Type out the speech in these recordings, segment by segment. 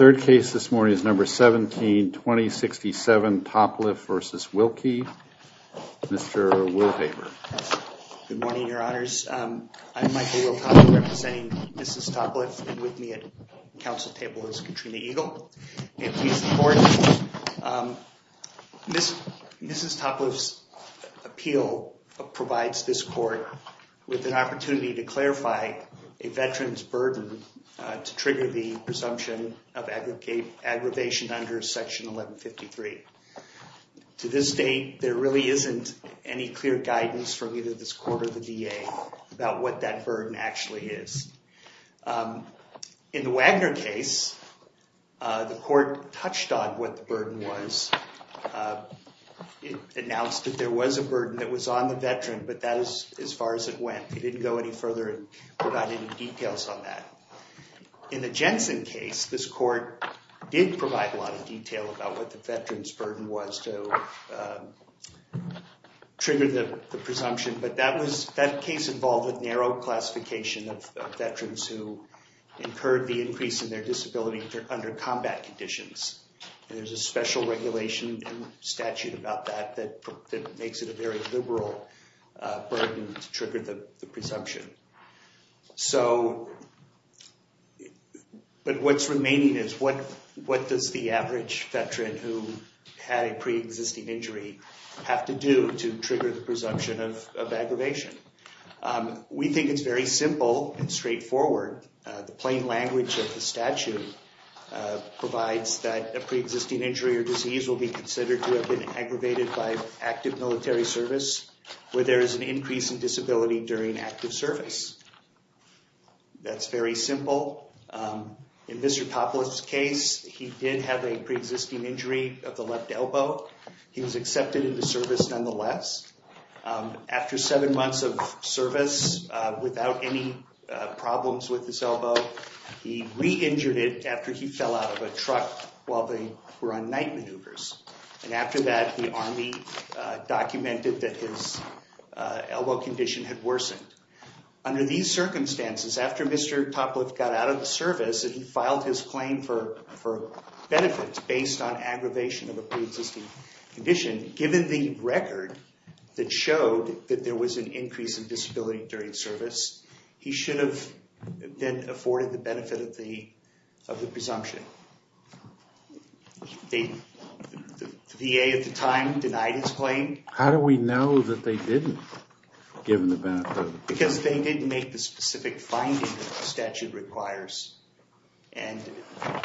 Good morning, your honors. I'm Michael Wiltop representing Mrs. Topliff and with me at the provides this court with an opportunity to clarify a veteran's burden to trigger the presumption of aggravation under Section 1153. To this date, there really isn't any clear guidance from either this court or the DA about what that burden actually is. In the Wagner case, the court touched on what the burden was. It announced that there was a burden that was on the veteran, but that is as far as it went. It didn't go any further and provide any details on that. In the Jensen case, this court did provide a lot of detail about what the veteran's burden was to trigger the presumption, but that case involved a narrow classification of veterans who incurred the increase in their disability under combat conditions. There's a special regulation and statute about that that makes it a very liberal burden to trigger the presumption. But what's remaining is what does the average veteran who had a pre-existing injury have to do to trigger the presumption of aggravation? We think it's very simple and straightforward. The plain language of the statute provides that a pre-existing injury or disease will be considered to have been aggravated by active military service where there is an increase in disability during active service. That's very simple. In Mr. Topolis' case, he did have a pre-existing injury of the left elbow. He was accepted into service nonetheless. After seven months of service without any problems with his elbow, he re-injured it after he fell out of a truck while they were on night maneuvers. After that, the Army documented that his elbow condition had worsened. Under these circumstances, after Mr. Topolis got out of the service and he filed his claim for benefits based on aggravation of a pre-existing condition, given the record that showed that there was an increase in disability during service, he should have then afforded the benefit of the presumption. The VA at the time denied his claim. How do we know that they didn't give him the benefit? Because they didn't make the specific finding that the statute requires.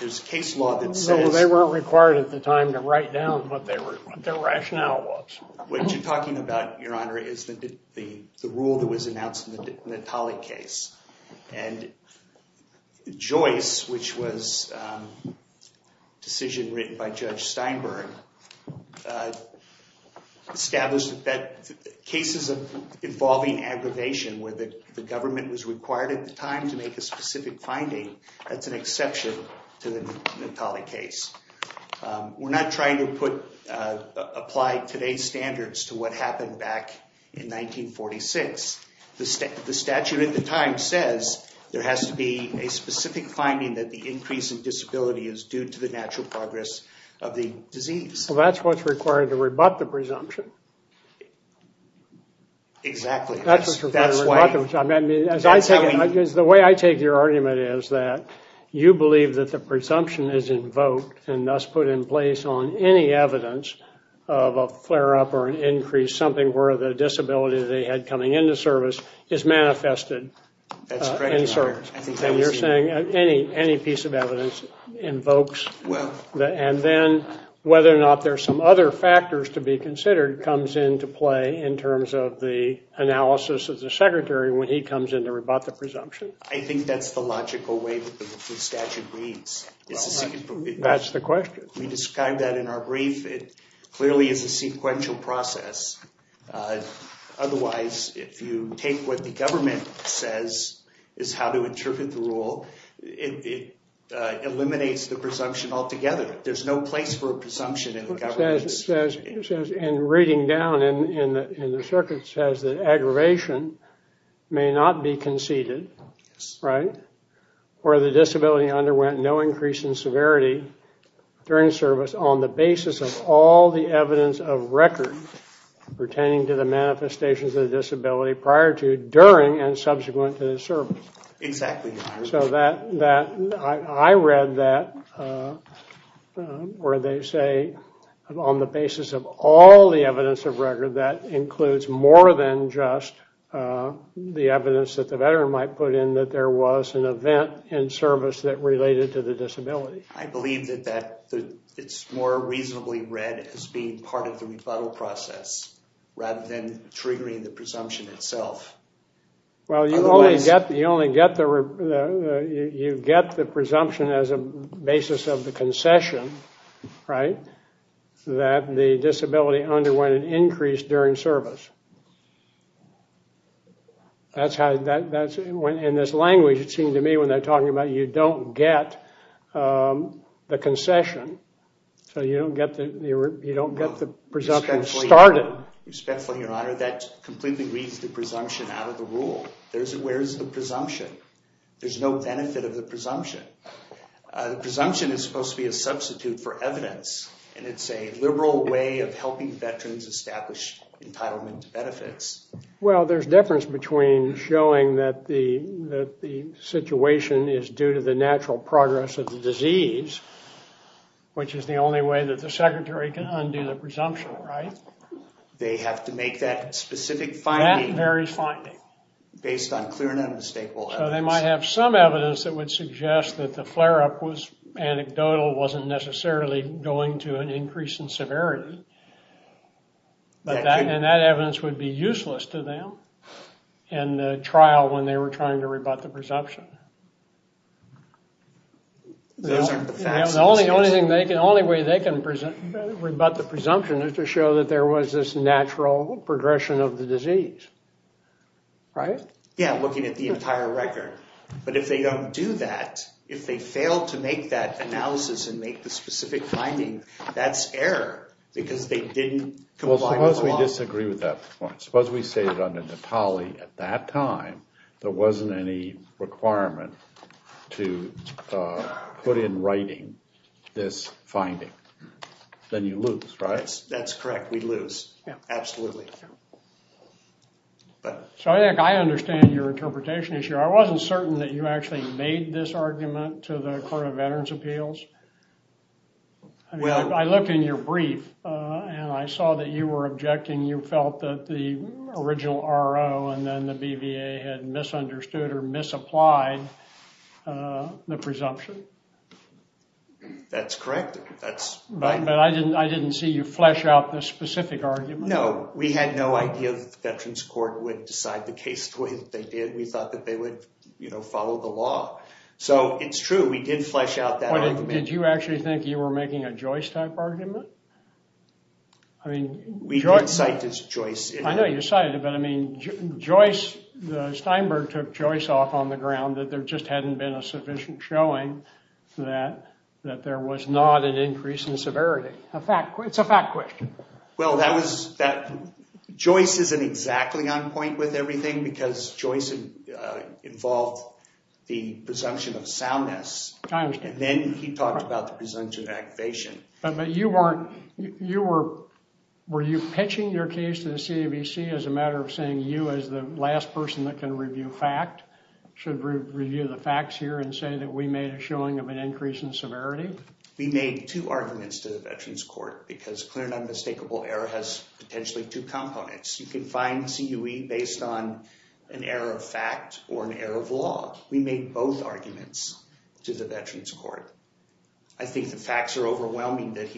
There's a case law that says... They weren't required at the time to write down what their rationale was. What you're talking about, Your Honor, is the rule that was announced in the Natale case. And Joyce, which was a decision written by Judge Steinberg, established that cases involving aggravation where the government was required at the time to make a specific finding, that's an exception to the Natale case. We're not trying to apply today's standards to what happened back in 1946. The statute at the time says there has to be a specific finding that the increase in disability is due to the natural progress of the disease. Well, that's what's required to rebut the presumption. Exactly. The way I take your argument is that you believe that the presumption is invoked and thus put in place on any evidence of a flare-up or an increase, something where the disability they had coming into service is manifested. That's correct, Your Honor. And you're saying any piece of evidence invokes... And then whether or not there are some other factors to be considered comes into play in terms of the analysis of the Secretary when he comes in to rebut the presumption. I think that's the logical way that the statute reads. That's the question. We described that in our brief. It clearly is a sequential process. Otherwise, if you take what the government says is how to interpret the rule, it eliminates the presumption altogether. There's no place for a presumption in the government. In reading down in the circuit, it says that aggravation may not be conceded where the disability underwent no increase in severity during service on the basis of all the evidence of record pertaining to the manifestations of the disability prior to, during, and subsequent to the service. I read that where they say on the basis of all the evidence of record, that includes more than just the evidence that the veteran might put in that there was an event in service that related to the disability. I believe that it's more reasonably read as being part of the rebuttal process rather than triggering the presumption itself. Well, you only get the presumption as a basis of the concession, right? That the disability underwent an increase during service. In this language, it seemed to me when they're talking about you don't get the concession. So you don't get the presumption started. Respectfully, Your Honor, that completely reads the presumption out of the rule. Where is the presumption? There's no benefit of the presumption. The presumption is supposed to be a substitute for evidence. And it's a liberal way of helping veterans establish entitlement benefits. Well, there's a difference between showing that the situation is due to the natural progress of the disease, which is the only way that the secretary can undo the presumption, right? They have to make that specific finding. That very finding. Based on clear and unmistakable evidence. So they might have some evidence that would suggest that the flare-up was anecdotal, wasn't necessarily going to an increase in severity. And that evidence would be useless to them in trial when they were trying to rebut the presumption. The only way they can rebut the presumption is to show that there was this natural progression of the disease, right? Yeah, looking at the entire record. But if they don't do that, if they fail to make that analysis and make the specific finding, that's error. Because they didn't comply with the law. Well, suppose we disagree with that point. Suppose we say that under Natali, at that time, there wasn't any requirement to put in writing this finding. Then you lose, right? That's correct. We lose. Absolutely. So I think I understand your interpretation. I wasn't certain that you actually made this argument to the Court of Veterans' Appeals. I looked in your brief, and I saw that you were objecting. You felt that the original RO and then the BVA had misunderstood or misapplied the presumption. That's correct. But I didn't see you flesh out the specific argument. No, we had no idea that the Veterans Court would decide the case the way that they did. We thought that they would follow the law. So it's true. We did flesh out that argument. Did you actually think you were making a Joyce-type argument? We did cite this Joyce. I know you cited it, but I mean, the Steinberg took Joyce off on the ground that there just hadn't been a sufficient showing that there was not an increase in severity. It's a fact question. Well, Joyce isn't exactly on point with everything because Joyce involved the presumption of soundness. And then he talked about the presumption of activation. But were you pitching your case to the CAVC as a matter of saying you as the last person that can review fact should review the facts here and say that we made a showing of an increase in severity? We made two arguments to the Veterans Court because clear and unmistakable error has potentially two components. You can find CUE based on an error of fact or an error of law. We made both arguments to the Veterans Court. I think the facts are overwhelming that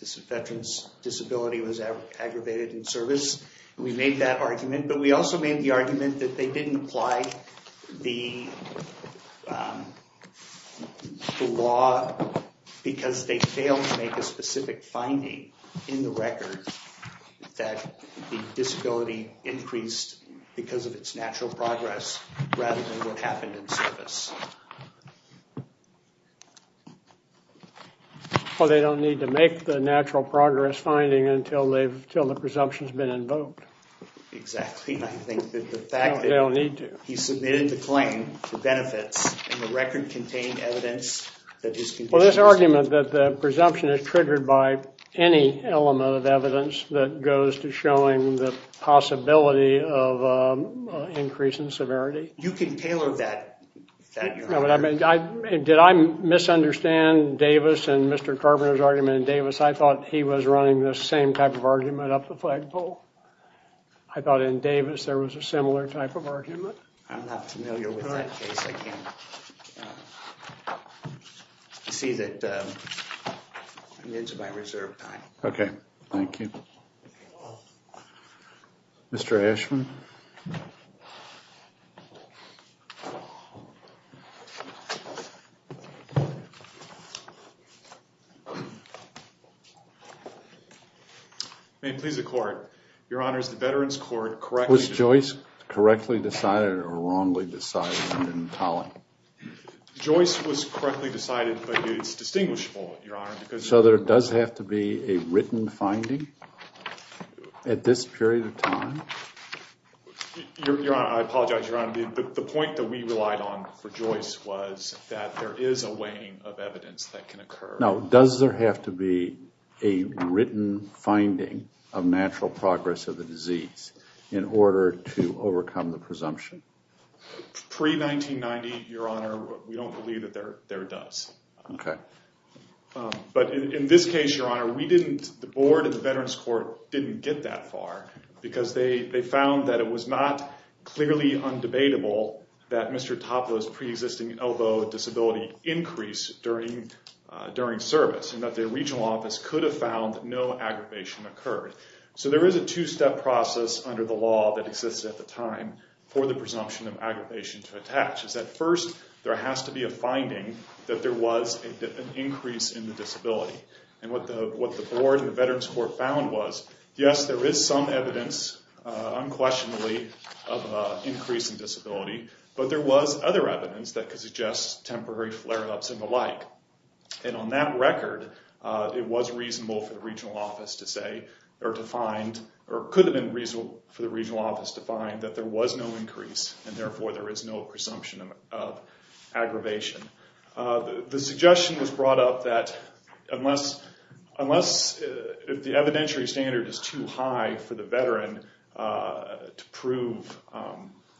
this veteran's disability was aggravated in service. We made that argument, but we also made the argument that they didn't apply the law because they failed to make a specific finding in the record that the disability increased because of its natural progress rather than what happened in service. Well, they don't need to make the natural progress finding until the presumption's been invoked. Exactly. I think that the fact that he submitted the claim for benefits in the record contained evidence that his condition was... Well, this argument that the presumption is triggered by any element of evidence that goes to showing the possibility of increase in severity... You can tailor that... Did I misunderstand Davis and Mr. Carpenter's argument in Davis? I thought he was running the same type of argument up the flagpole. I thought in Davis there was a similar type of argument. I'm not familiar with that case. You see that I'm into my reserve time. Okay, thank you. Mr. Ashman? May it please the court. Your Honor, is the Veterans Court correctly... Was Joyce correctly decided or wrongly decided? I didn't follow. Joyce was correctly decided, but it's distinguishable, Your Honor, because... So there does have to be a written finding at this period of time? Your Honor, I apologize, Your Honor. The point that we relied on for Joyce was that there is a weighing of evidence that can occur. Now, does there have to be a written finding of natural progress of the disease in order to overcome the presumption? Pre-1990, Your Honor, we don't believe that there does. Okay. But in this case, Your Honor, the board and the Veterans Court didn't get that far because they found that it was not clearly undebatable that Mr. Topla's pre-existing elbow disability increased during service, and that the regional office could have found that no aggravation occurred. So there is a two-step process under the law that existed at the time for the presumption of aggravation to attach. At first, there has to be a finding that there was an increase in the disability. And what the board and the Veterans Court found was, yes, there is some evidence, unquestionably, of an increase in disability, but there was other evidence that could suggest temporary flare-ups and the like. And on that record, it was reasonable for the regional office to say, or could have been reasonable for the regional office to find that there was no increase, and therefore there is no presumption of aggravation. The suggestion was brought up that unless the evidentiary standard is too high for the veteran to prove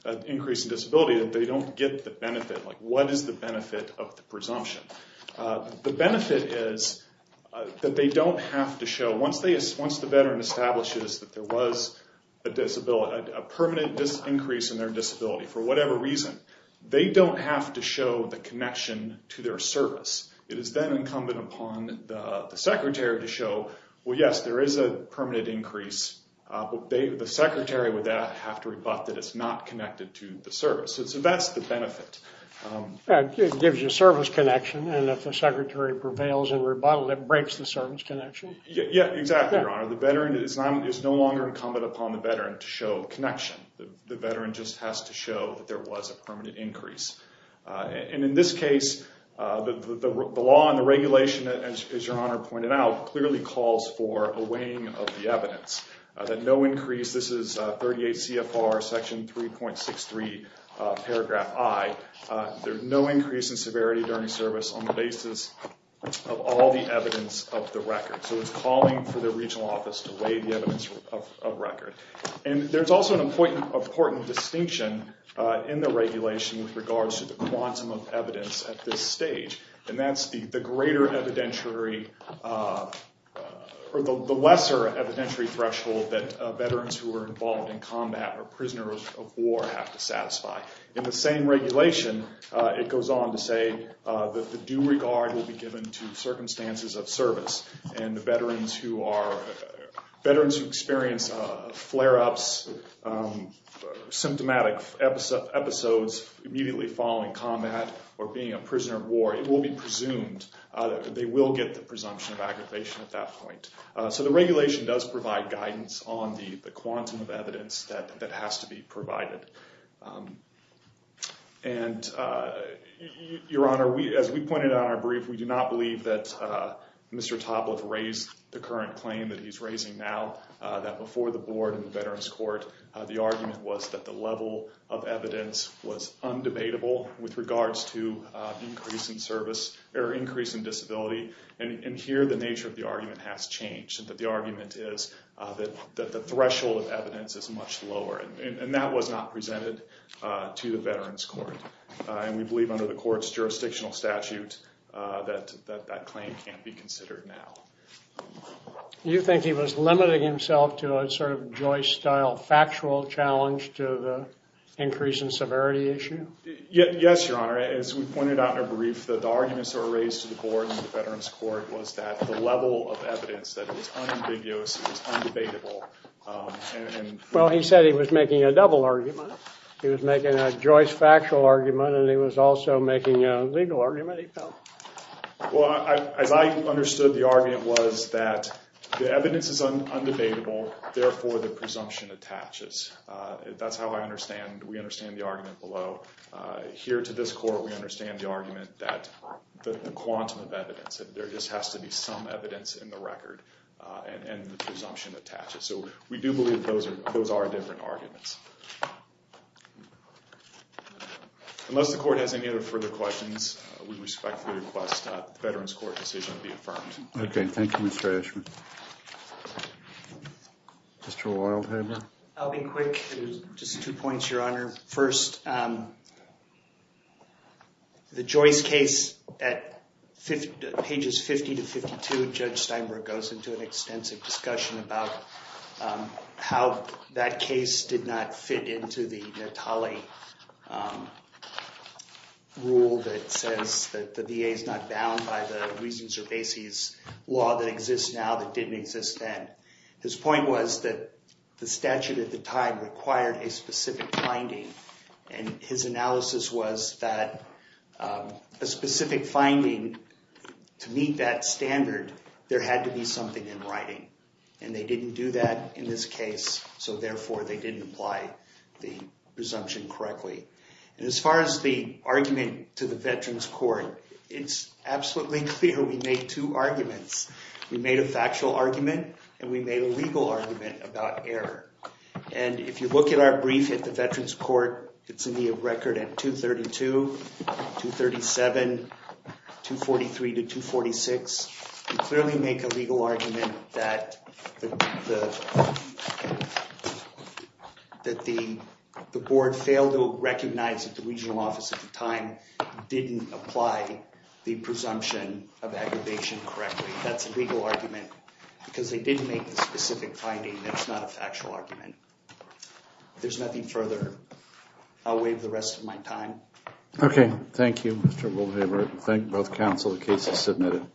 an increase in disability, that they don't get the benefit, like what is the benefit of the presumption? The benefit is that they don't have to show, once the veteran establishes that there was a permanent increase in their disability for whatever reason, they don't have to show the connection to their service. It is then incumbent upon the secretary to show, well, yes, there is a permanent increase, but the secretary would then have to rebut that it is not connected to the service. So that is the benefit. It gives you a service connection, and if the secretary prevails in rebuttal, it breaks the service connection. Yes, exactly, Your Honor. The veteran is no longer incumbent upon the veteran to show connection. The veteran just has to show that there was a permanent increase. In this case, the law and the regulation, as Your Honor pointed out, clearly calls for a weighing of the evidence. This is 38 CFR section 3.63 paragraph I. There is no increase in severity during service on the basis of all the evidence of the record. So it is calling for the regional office to weigh the evidence of record. There is also an important distinction in the regulation with regards to the quantum of evidence at this stage, and that is the lesser evidentiary threshold that veterans who are involved in combat or prisoners of war have to satisfy. In the same regulation, it goes on to say that the due regard will be given to circumstances of service, and veterans who experience flare-ups, symptomatic episodes immediately following combat or being a prisoner of war, it will be presumed that they will get the presumption of aggravation at that point. So the regulation does provide guidance on the quantum of evidence that has to be provided. And Your Honor, as we pointed out in our brief, we do not believe that Mr. Topliff raised the current claim that he's raising now, that before the board and the Veterans Court, the argument was that the level of evidence was undebatable with regards to increase in service, or increase in disability, and here the nature of the argument has changed, that the argument is that the threshold of evidence is much lower, and that was not presented to the Veterans Court, and we believe under the court's jurisdictional statute that that claim can't be considered now. You think he was limiting himself to a sort of Joyce-style factual challenge to the increase in severity issue? Yes, Your Honor. As we pointed out in our brief, the arguments that were raised to the board and the Veterans Court was that the level of evidence, that it was unambiguous, it was undebatable. Well, he said he was making a double argument. He was making a Joyce factual argument, and he was also making a legal argument. Well, as I understood the argument was that the evidence is undebatable, therefore the presumption attaches. That's how I understand, we understand the argument below. Here to this court, we understand the argument that the quantum of evidence, that there just has to be some evidence in the record, and the presumption attaches. So we do believe those are different arguments. Unless the court has any other further questions, we respectfully request that the Veterans Court decision be affirmed. Okay, thank you, Mr. Eschman. Mr. Wildhaber? I'll be quick. Just two points, Your Honor. First, the Joyce case at pages 50 to 52, Judge Steinberg goes into an extensive discussion about how that case did not fit into the Natale rule that says that the VA is not bound by the reasons or bases law that exists now that didn't exist then. His point was that the statute at the time required a specific finding, and his analysis was that a specific finding to meet that standard, there had to be something in writing. And they didn't do that in this case, so therefore they didn't apply the presumption correctly. And as far as the argument to the Veterans Court, it's absolutely clear we made two arguments. We made a factual argument, and we made a legal argument about error. And if you look at our brief at the Veterans Court, it's in the record at 232, 237, 243 to 246. We clearly make a legal argument that the board failed to recognize at the regional office at the time didn't apply the presumption of aggravation correctly. That's a legal argument because they didn't make the specific finding. That's not a factual argument. If there's nothing further, I'll waive the rest of my time. Okay. Thank you, Mr. Wildhaber. Thank both counsel. The case is submitted.